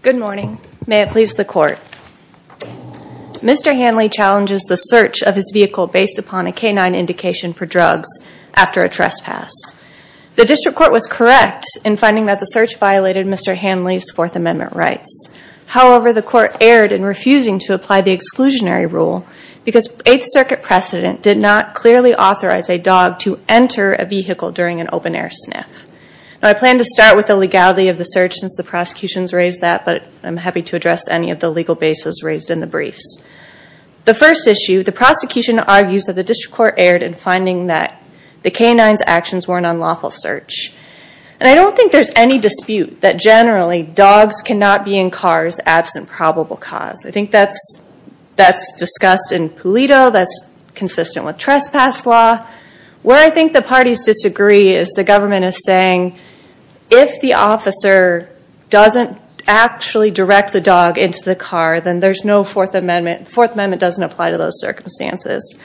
Good morning. May it please the court. Mr. Handley challenges the search of his vehicle based upon a canine indication for drugs after a trespass. The district court was correct in finding that the search violated Mr. Handley's Fourth Amendment rights. However, the court erred in refusing to apply the exclusionary rule because Eighth Circuit precedent did not clearly authorize a dog to enter a vehicle during an open air sniff. I plan to start with the legality of the search since the prosecution has raised that, but I'm happy to address any of the legal bases raised in the briefs. The first issue, the prosecution argues that the district court erred in finding that the canine's actions were an unlawful search. I don't think there's any dispute that generally dogs cannot be in cars absent probable cause. I think that's discussed in Pulido, that's consistent with trespass law. Where I think the parties disagree is the government is saying if the officer doesn't actually direct the dog into the car, then there's no Fourth Amendment. The Fourth Amendment doesn't apply to those circumstances.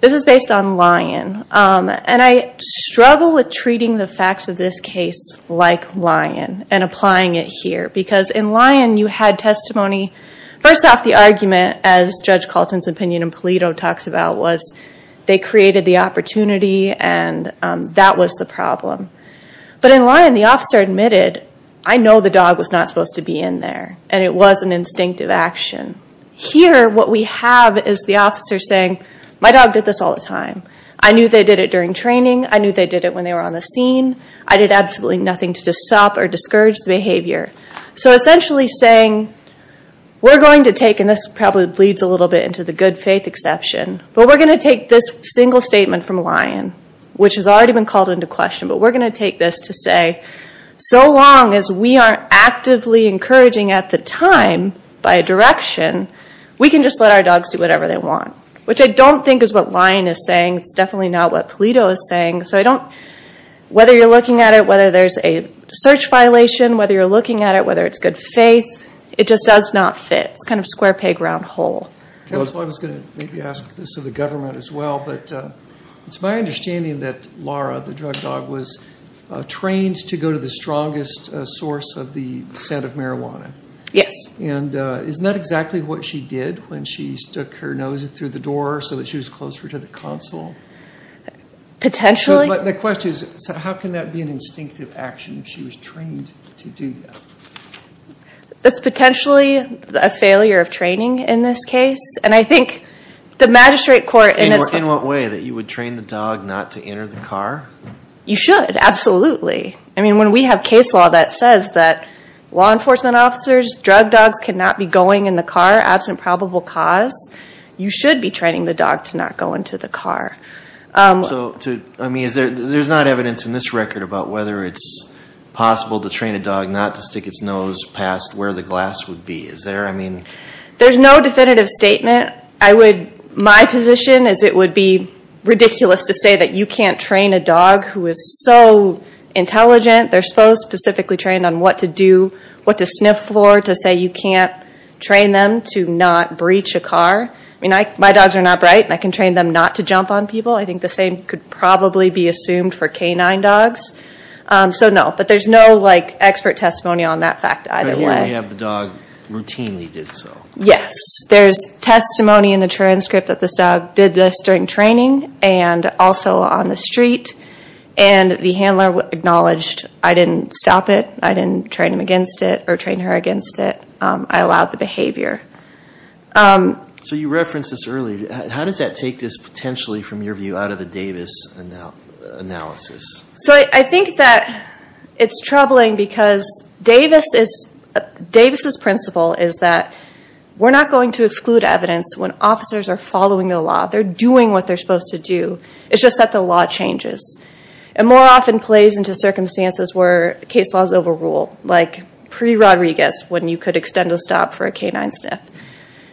This is based on Lyon, and I struggle with treating the facts of this case like Lyon and applying it here. Because in Lyon, you had testimony. First off, the argument, as Judge Calton's opinion in Pulido talks about, was they created the opportunity and that was the problem. But in Lyon, the officer admitted, I know the dog was not supposed to be in there, and it was an instinctive action. Here, what we have is the officer saying, my dog did this all the time. I knew they did it during training. I knew they did it when they were on the scene. I did absolutely nothing to stop or discourage the behavior. So essentially saying, we're going to take, and this probably bleeds a little bit into the good faith exception, but we're going to take this single statement from Lyon, which has already been called into question, but we're going to take this to say so long as we aren't actively encouraging at the time by a direction, we can just let our dogs do whatever they want. Which I don't think is what Lyon is saying. It's definitely not what Pulido is saying. So I don't, whether you're looking at it, whether there's a search violation, whether you're looking at it, whether it's good faith, it just does not fit. It's kind of square peg round hole. I was going to maybe ask this of the government as well, but it's my understanding that Laura, the drug dog, was trained to go to the strongest source of the scent of marijuana. Yes. And isn't that exactly what she did when she stuck her nose through the door so that she was closer to the console? Potentially. The question is, how can that be an instinctive action if she was trained to do that? That's potentially a failure of training in this case, and I think the magistrate court in this- In what way? That you would train the dog not to enter the car? You should, absolutely. I mean, when we have case law that says that law enforcement officers, drug dogs cannot be going in the car absent probable cause, you should be training the dog to not go into the car. So, I mean, there's not evidence in this record about whether it's possible to train a dog not to stick its nose past where the glass would be. Is there, I mean- There's no definitive statement. I would, my position is it would be ridiculous to say that you can't train a dog who is so intelligent, they're supposed to specifically train on what to do, what to sniff for, to say you can't train them to not breach a car. I mean, my dogs are not bright, and I can train them not to jump on people. I think the same could probably be assumed for canine dogs. So, no. But there's no expert testimony on that fact either way. But here we have the dog routinely did so. Yes. There's testimony in the transcript that this dog did this during training and also on the street, and the handler acknowledged I didn't stop it. I didn't train him against it or train her against it. I allowed the behavior. So you referenced this earlier. How does that take this potentially from your view out of the Davis analysis? So I think that it's troubling because Davis' principle is that we're not going to exclude evidence when officers are following the law. They're doing what they're supposed to do. It's just that the law changes. And more often plays into circumstances where case laws overrule, like pre-Rodriguez when you could extend a stop for a canine sniff.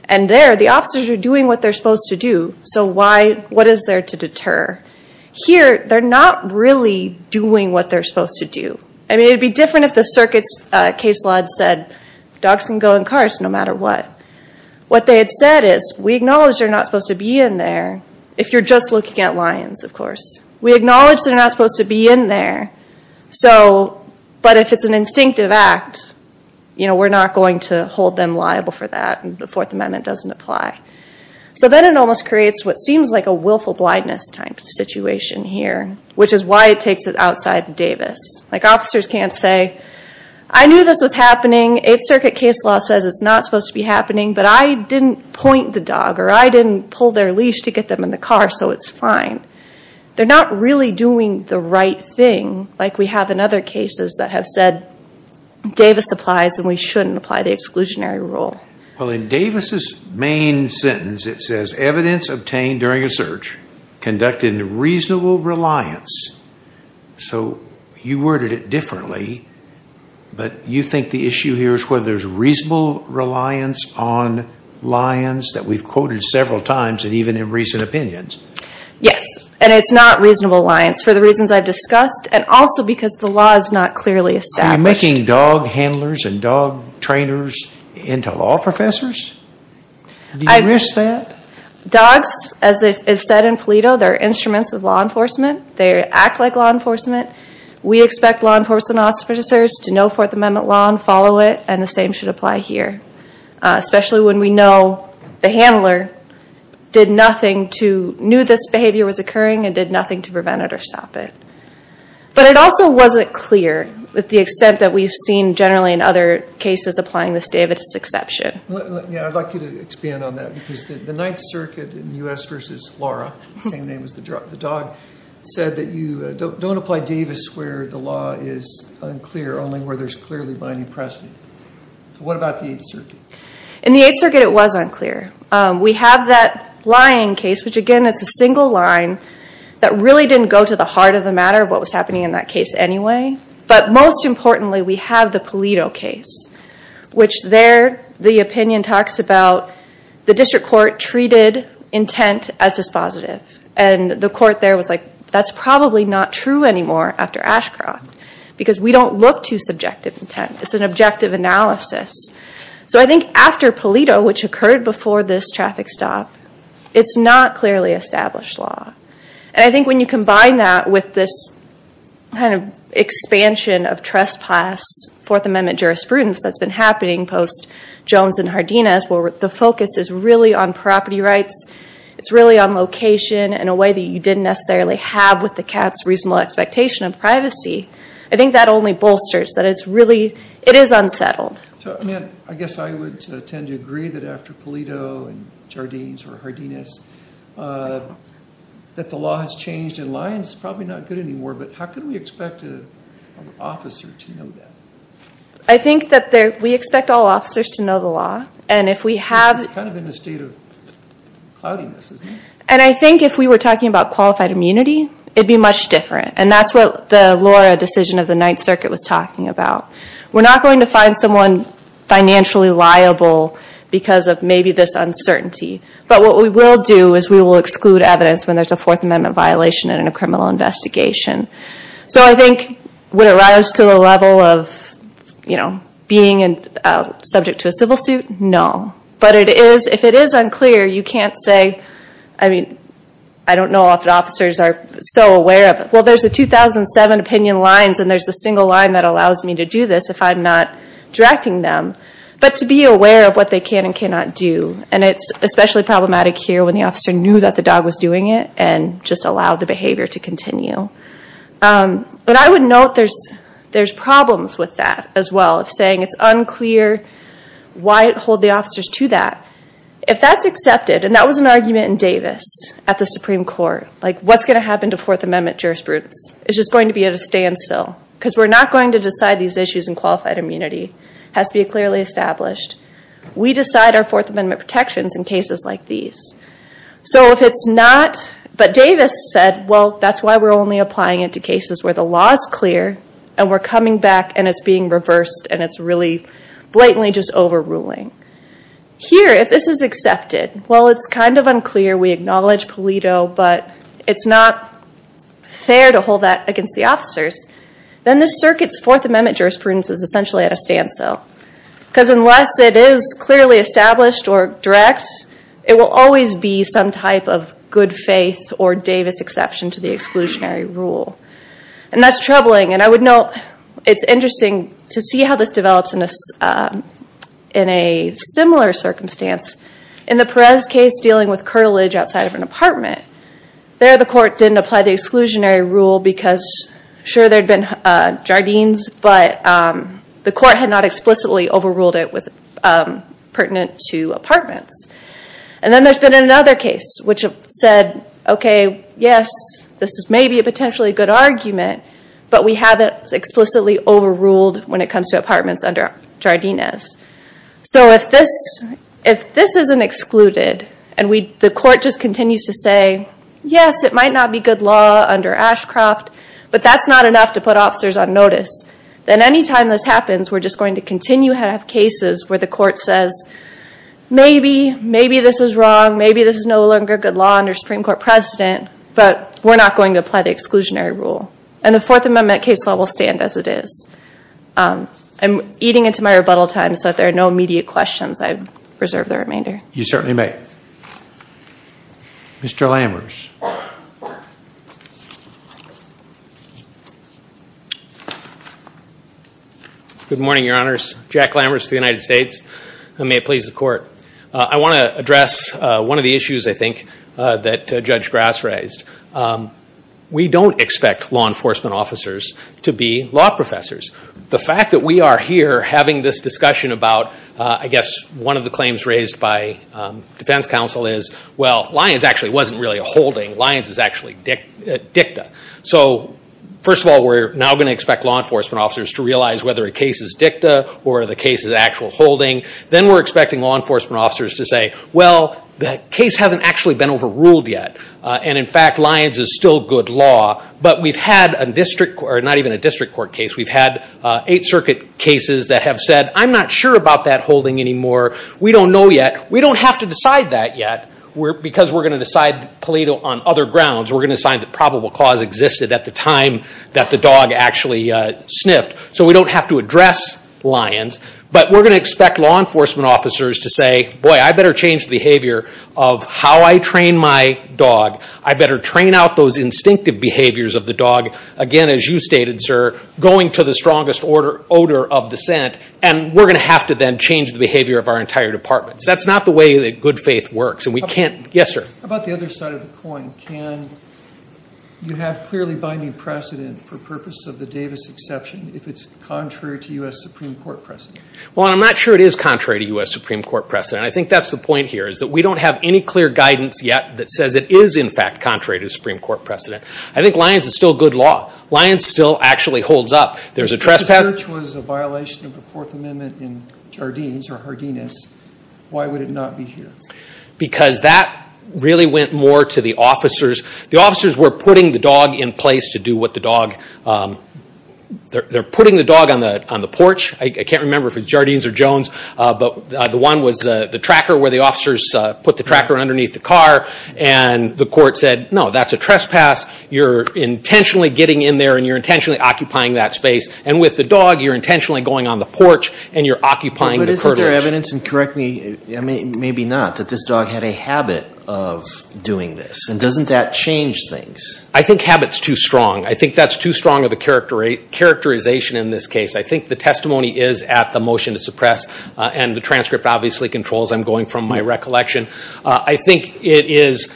And there, the officers are doing what they're supposed to do. So what is there to deter? Here they're not really doing what they're supposed to do. I mean, it'd be different if the circuit's case law said dogs can go in cars no matter what. What they had said is we acknowledge they're not supposed to be in there if you're just looking at lions, of course. We acknowledge they're not supposed to be in there. So, but if it's an instinctive act, you know, we're not going to hold them liable for that. The Fourth Amendment doesn't apply. So then it almost creates what seems like a willful blindness type situation here, which is why it takes it outside the Davis. Like officers can't say, I knew this was happening. Eighth Circuit case law says it's not supposed to be happening, but I didn't point the dog or I didn't pull their leash to get them in the car, so it's fine. They're not really doing the right thing like we have in other cases that have said Davis applies and we shouldn't apply the exclusionary rule. Well, in Davis' main sentence, it says evidence obtained during a search conducted in reasonable reliance. So you worded it differently, but you think the issue here is whether there's reasonable reliance on lions that we've quoted several times and even in recent opinions. Yes, and it's not reasonable reliance for the reasons I've discussed and also because the law is not clearly established. Are you making dog handlers and dog trainers into law professors? Do you risk that? Dogs, as it's said in PLETO, they're instruments of law enforcement. They act like law enforcement. We expect law enforcement officers to know Fourth Amendment law and follow it, and the same thing should apply here, especially when we know the handler knew this behavior was occurring and did nothing to prevent it or stop it. But it also wasn't clear with the extent that we've seen generally in other cases applying this day of its exception. Yeah, I'd like you to expand on that because the Ninth Circuit in U.S. v. Lara, same name as the dog, said that you don't apply Davis where the law is unclear, only where there's clearly binding precedent. So what about the Eighth Circuit? In the Eighth Circuit, it was unclear. We have that lion case, which again, it's a single line that really didn't go to the heart of the matter of what was happening in that case anyway. But most importantly, we have the PLETO case, which there, the opinion talks about the district court treated intent as dispositive. And the court there was like, that's probably not true anymore after Ashcroft because we don't look to subjective intent. It's an objective analysis. So I think after PLETO, which occurred before this traffic stop, it's not clearly established law. And I think when you combine that with this kind of expansion of trespass Fourth Amendment jurisprudence that's been happening post-Jones and Hardina, where the focus is really on property rights, it's really on location in a way that you didn't necessarily have with the CATS reasonable expectation of privacy. I think that only bolsters that it's really, it is unsettled. So I mean, I guess I would tend to agree that after PLETO and Jardines or Hardinas, that the law has changed. And lion's probably not good anymore, but how can we expect an officer to know that? I think that we expect all officers to know the law. And if we have... It's kind of in a state of cloudiness, isn't it? And I think if we were talking about qualified immunity, it'd be much different. And that's what the Laura decision of the Ninth Circuit was talking about. We're not going to find someone financially liable because of maybe this uncertainty. But what we will do is we will exclude evidence when there's a Fourth Amendment violation in a criminal investigation. So I think would it rise to the level of being subject to a civil suit? No. But if it is unclear, you can't say, I mean, I don't know if the officers are so aware of it. Well, there's a 2007 opinion lines and there's a single line that allows me to do this if I'm not directing them. But to be aware of what they can and cannot do. And it's especially problematic here when the officer knew that the dog was doing it and just allowed the behavior to continue. But I would note there's problems with that as well of saying it's unclear why it hold the officers to that. If that's accepted, and that was an argument in Davis at the Supreme Court, like what's going to happen to Fourth Amendment jurisprudence? It's just going to be at a standstill because we're not going to decide these issues in qualified immunity. It has to be clearly established. We decide our Fourth Amendment protections in cases like these. So if it's not, but Davis said, well, that's why we're only applying it to cases where the law is clear and we're coming back and it's being reversed and it's really slightly just overruling. Here, if this is accepted, while it's kind of unclear, we acknowledge Pulido, but it's not fair to hold that against the officers, then the circuit's Fourth Amendment jurisprudence is essentially at a standstill. Because unless it is clearly established or direct, it will always be some type of good faith or Davis exception to the exclusionary rule. And that's troubling. And I would note, it's interesting to see how this develops in a similar circumstance. In the Perez case, dealing with curtilage outside of an apartment, there the court didn't apply the exclusionary rule because, sure, there had been jardines, but the court had not explicitly overruled it pertinent to apartments. And then there's been another case which said, OK, yes, this is maybe a potentially good argument, but we haven't explicitly overruled when it comes to apartments under jardines. So if this isn't excluded and the court just continues to say, yes, it might not be good law under Ashcroft, but that's not enough to put officers on notice, then any time this happens, we're just going to continue to have cases where the court says, maybe, maybe this is wrong, maybe this is no longer good law under Supreme Court precedent, but we're not going to apply the exclusionary rule. And the Fourth Amendment case law will stand as it is. I'm eating into my rebuttal time, so if there are no immediate questions, I reserve the remainder. You certainly may. Mr. Lammers. Good morning, Your Honors. Jack Lammers for the United States. And may it please the Court. I want to address one of the issues, I think, that Judge Grass raised. We don't expect law enforcement officers to be law professors. The fact that we are here having this discussion about, I guess, one of the claims raised by defense counsel is, well, Lyons actually wasn't really a holding. Lyons is actually dicta. So first of all, we're now going to expect law enforcement officers to realize whether a case is dicta or the case is actual holding. Then we're expecting law enforcement officers to say, well, the case hasn't actually been overruled yet. And in fact, Lyons is still good law. But we've had a district, or not even a district court case, we've had Eighth Circuit cases that have said, I'm not sure about that holding anymore. We don't know yet. We don't have to decide that yet, because we're going to decide the plea on other grounds. We're going to decide that probable cause existed at the time that the dog actually sniffed. So we don't have to address Lyons. But we're going to expect law enforcement officers to say, boy, I better change the behavior of how I train my dog. I better train out those instinctive behaviors of the dog. Again, as you stated, sir, going to the strongest odor of the scent. And we're going to have to then change the behavior of our entire department. So that's not the way that good faith works. And we can't... Yes, sir? About the other side of the coin, can you have clearly binding precedent for purpose of the Davis exception if it's contrary to U.S. Supreme Court precedent? Well, I'm not sure it is contrary to U.S. Supreme Court precedent. I think that's the point here, is that we don't have any clear guidance yet that says it is, in fact, contrary to Supreme Court precedent. I think Lyons is still good law. Lyons still actually holds up. There's a trespass... If the search was a violation of the Fourth Amendment in Jardines or Hardiness, why would it not be here? Because that really went more to the officers. The officers were putting the dog in place to do what the dog... They're putting the dog on the porch. I can't remember if it's Jardines or Jones, but the one was the tracker where the officers put the tracker underneath the car. And the court said, no, that's a trespass. You're intentionally getting in there and you're intentionally occupying that space. And with the dog, you're intentionally going on the porch and you're occupying the curtilage. But isn't there evidence, and correct me, maybe not, that this dog had a habit of doing this? And doesn't that change things? I think habit's too strong. I think that's too strong of a characterization in this case. I think the testimony is at the motion to suppress, and the transcript obviously controls. I'm going from my recollection. I think it is,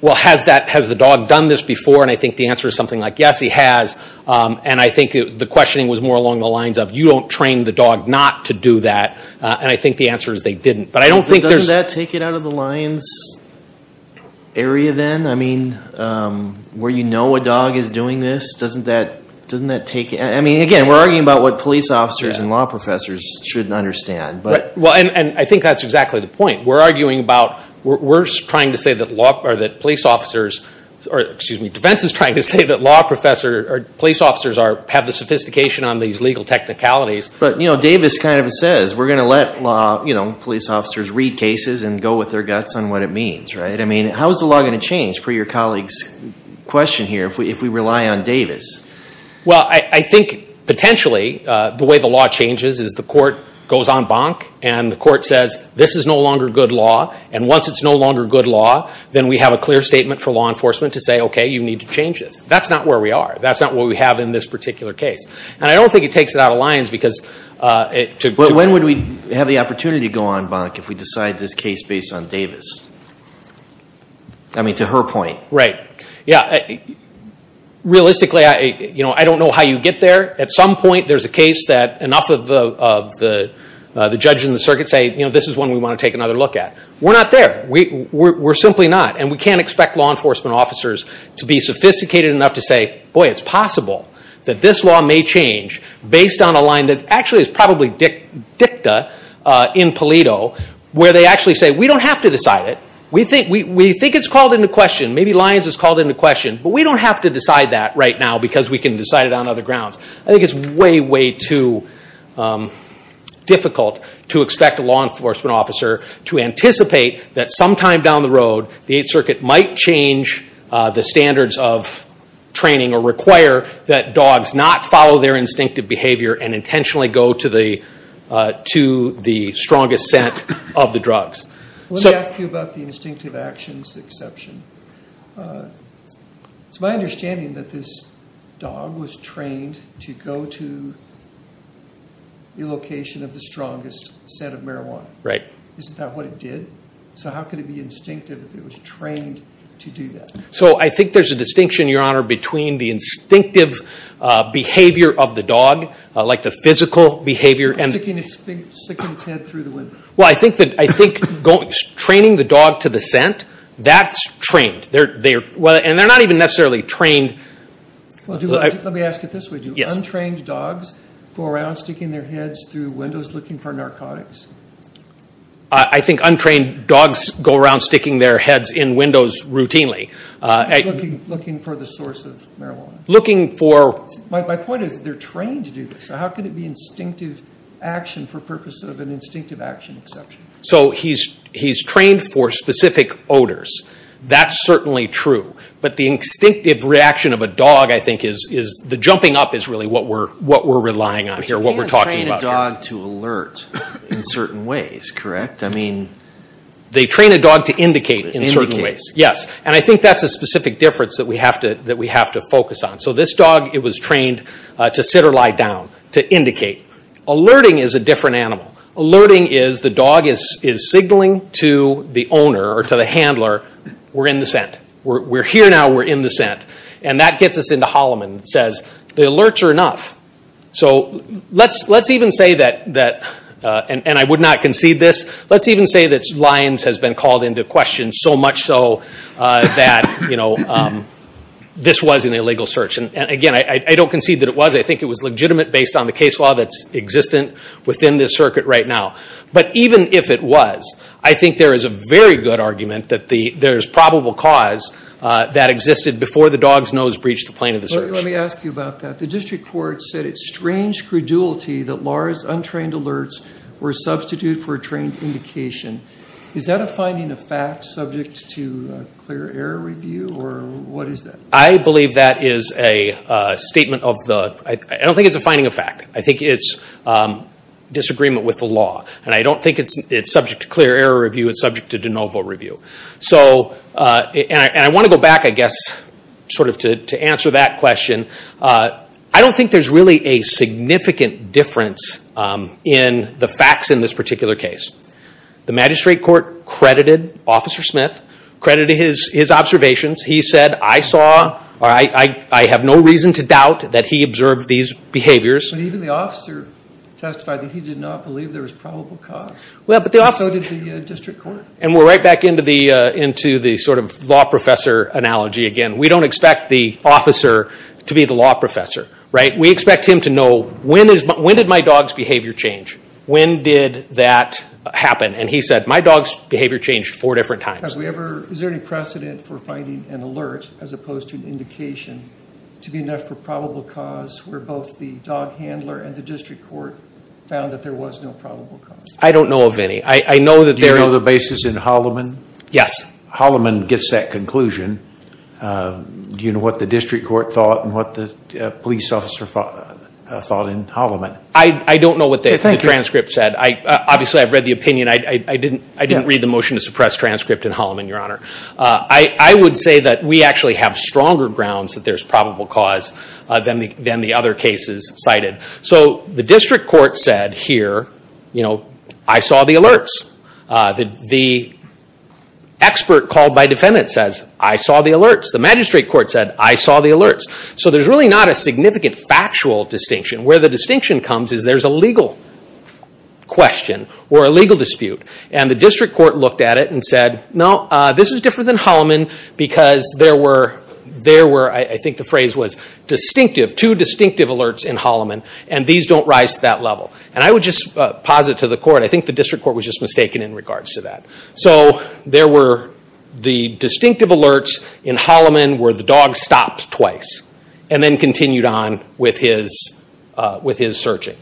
well, has the dog done this before? And I think the answer is something like, yes, he has. And I think the questioning was more along the lines of, you don't train the dog not to do that. And I think the answer is they didn't. But I don't think there's... Where you know a dog is doing this, doesn't that take it? I mean, again, we're arguing about what police officers and law professors shouldn't understand. And I think that's exactly the point. We're arguing about, we're trying to say that law or that police officers, or excuse me, defense is trying to say that law professor or police officers have the sophistication on these legal technicalities. But Davis kind of says, we're going to let law, police officers read cases and go with their guts on what it means, right? I mean, how is the law going to change per your colleague's question here, if we rely on Davis? Well, I think potentially the way the law changes is the court goes en banc and the court says, this is no longer good law. And once it's no longer good law, then we have a clear statement for law enforcement to say, okay, you need to change this. That's not where we are. That's not what we have in this particular case. And I don't think it takes it out of lines because... When would we have the opportunity to go en banc if we decide this case based on Davis? I mean, to her point. Right. Yeah. Realistically, I don't know how you get there. At some point, there's a case that enough of the judges in the circuit say, this is one we want to take another look at. We're not there. We're simply not. And we can't expect law enforcement officers to be sophisticated enough to say, boy, it's possible that this law may change based on a line that actually is probably dicta in paleto, where they actually say, we don't have to decide it. We think it's called into question. Maybe Lyons is called into question. But we don't have to decide that right now because we can decide it on other grounds. I think it's way, way too difficult to expect a law enforcement officer to anticipate that sometime down the road, the Eighth Circuit might change the standards of training or require that dogs not follow their instinctive behavior and intentionally go to the strongest scent of the drugs. Let me ask you about the instinctive actions exception. It's my understanding that this dog was trained to go to the location of the strongest scent of marijuana. Isn't that what it did? So how could it be instinctive if it was trained to do that? So I think there's a distinction, Your Honor, between the instinctive behavior of the dog, like the physical behavior and- Sticking its head through the window. Well, I think training the dog to the scent, that's trained. And they're not even necessarily trained- Let me ask it this way. Do untrained dogs go around sticking their heads through windows looking for narcotics? I think untrained dogs go around sticking their heads in windows routinely. Looking for the source of marijuana. Looking for- My point is, they're trained to do this. So how could it be instinctive action for purpose of an instinctive action exception? So he's trained for specific odors. That's certainly true. But the instinctive reaction of a dog, I think, is the jumping up is really what we're relying on here, what we're talking about here. But you can't train a dog to alert in certain ways, correct? I mean- They train a dog to indicate in certain ways, yes. And I think that's a specific difference that we have to focus on. So this dog, it was trained to sit or lie down, to indicate. Alerting is a different animal. Alerting is the dog is signaling to the owner or to the handler, we're in the scent. We're here now, we're in the scent. And that gets us into Holloman and says, the alerts are enough. So let's even say that, and I would not concede this, let's even say that Lyons has been called into question so much so that this was an illegal search. And again, I don't concede that it was. I think it was legitimate based on the case law that's existent within this circuit right now. But even if it was, I think there is a very good argument that there's probable cause that existed before the dog's nose breached the plane of the search. Let me ask you about that. The district court said it's strange credulity that Laura's untrained alerts were a substitute for a trained indication. Is that a finding of fact subject to clear error review? Or what is that? I believe that is a statement of the, I don't think it's a finding of fact. I think it's disagreement with the law. And I don't think it's subject to clear error review, it's subject to de novo review. So, and I want to go back, I guess, sort of to answer that question. I don't think there's really a significant difference in the facts in this particular case. The magistrate court credited Officer Smith, credited his observations. He said, I saw, I have no reason to doubt that he observed these behaviors. But even the officer testified that he did not believe there was probable cause. Well, but the officer... So did the district court. And we're right back into the sort of law professor analogy again. We don't expect the officer to be the law professor, right? We expect him to know, when did my dog's behavior change? When did that happen? And he said, my dog's behavior changed four different times. Have we ever, is there any precedent for finding an alert as opposed to an indication to be enough for probable cause where both the dog handler and the district court found that there was no probable cause? I don't know of any. I know that there... Do you know the basis in Holloman? Yes. Holloman gets that conclusion. Do you know what the district court thought and what the police officer thought in Holloman? I don't know what the transcript said. Obviously, I've read the opinion. I didn't read the motion to suppress transcript in Holloman, Your Honor. I would say that we actually have stronger grounds that there's probable cause than the other cases cited. So the district court said here, I saw the alerts. The expert called by defendant says, I saw the alerts. The magistrate court said, I saw the alerts. So there's really not a significant factual distinction. Where the distinction comes is there's a legal question or a legal dispute. And the district court looked at it and said, no, this is different than Holloman because there were, I think the phrase was distinctive, two distinctive alerts in Holloman and these don't rise to that level. And I would just posit to the court, I think the district court was just mistaken in regards to that. So there were the distinctive alerts in Holloman where the dog stopped twice and then continued on with his searching.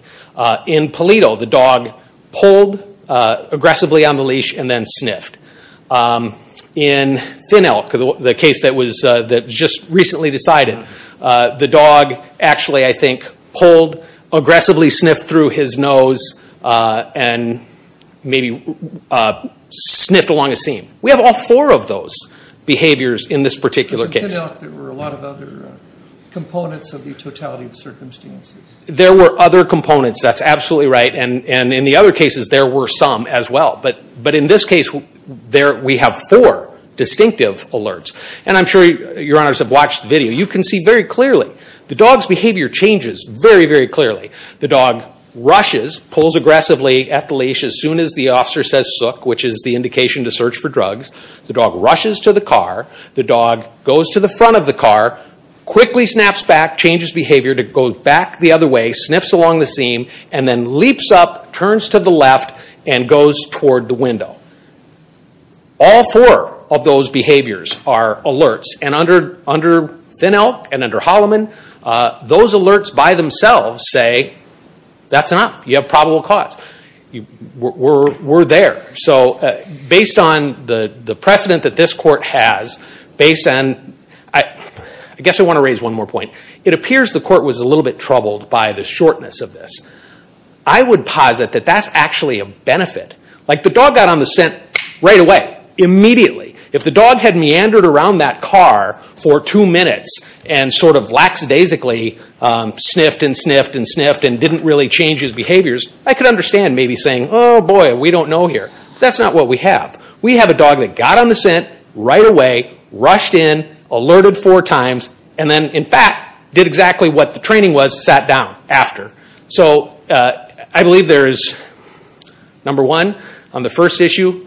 In Polito, the dog pulled aggressively on the leash and then sniffed. In Thin Elk, the case that was just recently decided, the dog actually, I think, pulled aggressively, sniffed through his nose, and maybe sniffed along a seam. We have all four of those behaviors in this particular case. In Thin Elk, there were a lot of other components of the totality of the circumstances. There were other components. That's absolutely right. And in the other cases, there were some as well. But in this case, we have four distinctive alerts. And I'm sure Your Honors have watched the video. You can see very clearly, the dog's behavior changes very, very clearly. The dog rushes, pulls aggressively at the leash as soon as the officer says, sook, which is the indication to search for drugs. The dog rushes to the car. The dog goes to the front of the car, quickly snaps back, changes behavior to go back the other way, sniffs along the seam, and then leaps up, turns to the left, and goes toward the window. All four of those behaviors are alerts. And under Thin Elk and under Holloman, those alerts by themselves say, that's enough. You have probable cause. We're there. It appears the court was a little bit troubled by the shortness of this. I would posit that that's actually a benefit. The dog got on the scent right away, immediately. If the dog had meandered around that car for two minutes and sort of lackadaisically sniffed and sniffed and sniffed and didn't really change his behaviors, I could understand maybe saying, oh boy, we don't know here. That's not what we have. We have a dog that got on the scent right away, rushed in, alerted four times, and then, in fact, did exactly what the training was, sat down after. So I believe there is, number one, on the first issue,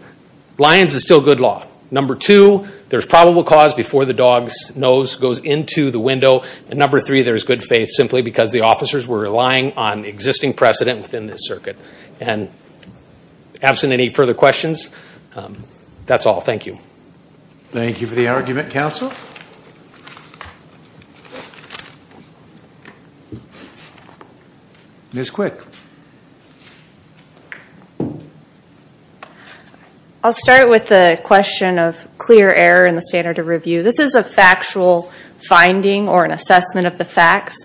Lyons is still good law. Number two, there's probable cause before the dog's nose goes into the window. And number three, there's good faith, simply because the officers were relying on existing precedent within this circuit. And absent any further questions, that's all. Thank you. Thank you for the argument, counsel. Ms. Quick. I'll start with the question of clear error in the standard of review. This is a factual finding or an assessment of the facts.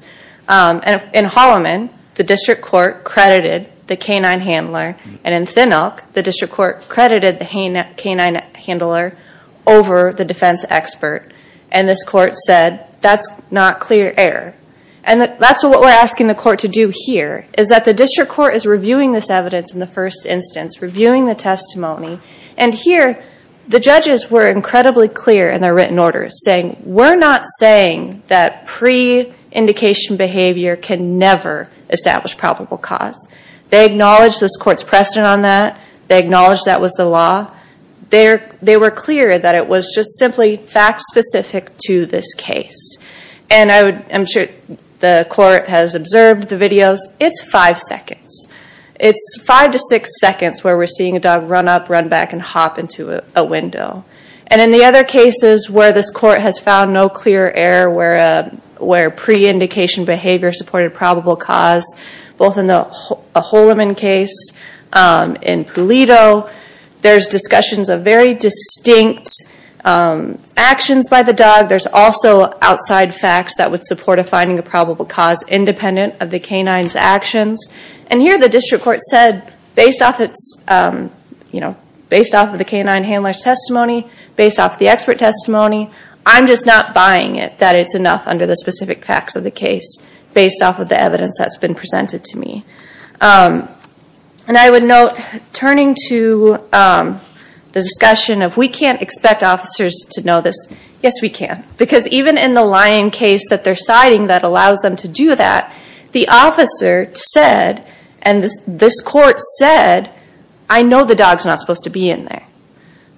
In Holloman, the district court credited the canine handler. And in Thin Elk, the district court credited the canine handler over the defense expert. And this court said, that's not clear error. And that's what we're asking the court to do here, is that the district court is reviewing this evidence in the first instance, reviewing the testimony. And here, the judges were incredibly clear in their written orders, saying, we're not saying that pre-indication behavior can never establish probable cause. They acknowledged this court's precedent on that. They acknowledged that was the law. They were clear that it was just simply fact-specific to this case. And I'm sure the court has observed the videos. It's five seconds. It's five to six seconds where we're seeing a dog run up, run back, and hop into a window. And in the other cases where this court has found no clear error where pre-indication behavior supported probable cause, both in the Holloman case, in Pulido, there's discussions of very distinct actions by the dog. There's also outside facts that would support a finding of probable cause independent of the canine's actions. And here, the district court said, based off of the canine handler's testimony, based off the expert testimony, I'm just not buying it that it's enough under the specific facts of the case, based off of the evidence that's been presented to me. And I would note, turning to the discussion of, we can't expect officers to know this. Yes, we can. Because even in the Lyon case that they're citing that allows them to do that, the officer said, and this court said, I know the dog's not supposed to be in there.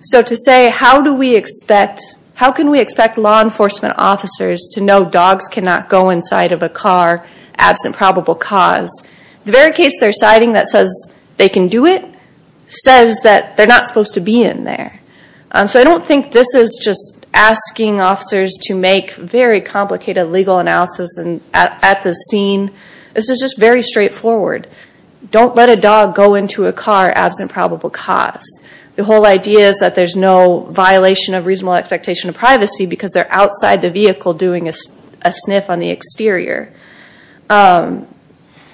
So to say, how do we expect, how can we expect law enforcement officers to know dogs cannot go inside of a car absent probable cause? The very case they're citing that says they can do it, says that they're not supposed to be in there. So I don't think this is just asking officers to make very complicated legal analysis at the scene. This is just very straightforward. Don't let a dog go into a car absent probable cause. The whole idea is that there's no violation of reasonable expectation of privacy because they're outside the vehicle doing a sniff on the exterior. And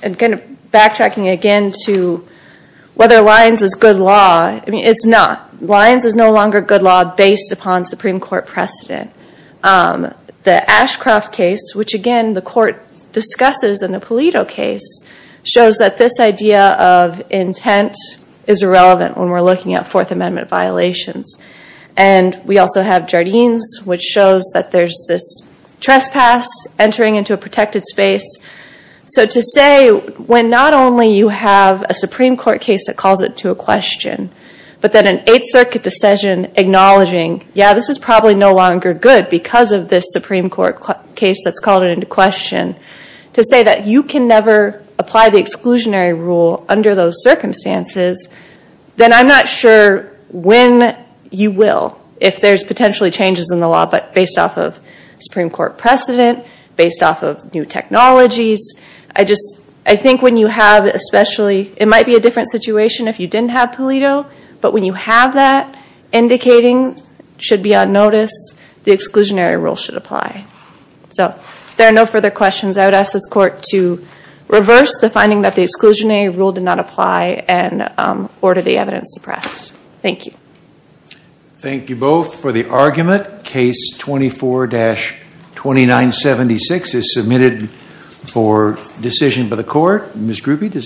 kind of backtracking again to whether Lyons is good law. I mean, it's not. Lyons is no longer good law based upon Supreme Court precedent. The Ashcroft case, which again the court discusses in the Pulido case, shows that this idea of intent is irrelevant when we're looking at Fourth Amendment violations. And we also have Jardines, which shows that there's this trespass entering into a protected space. So to say when not only you have a Supreme Court case that calls it to a question, but then an Eighth Circuit decision acknowledging, yeah, this is probably no longer good because of this Supreme Court case that's called it into question, to say that you can never apply the exclusionary rule under those circumstances, then I'm not sure when you will, if there's technologies. I just, I think when you have especially, it might be a different situation if you didn't have Pulido, but when you have that indicating should be on notice, the exclusionary rule should apply. So if there are no further questions, I would ask this court to reverse the finding that the exclusionary rule did not apply and order the evidence suppressed. Thank you. Thank you both for the argument. Case 24-2976 is submitted for decision by the court.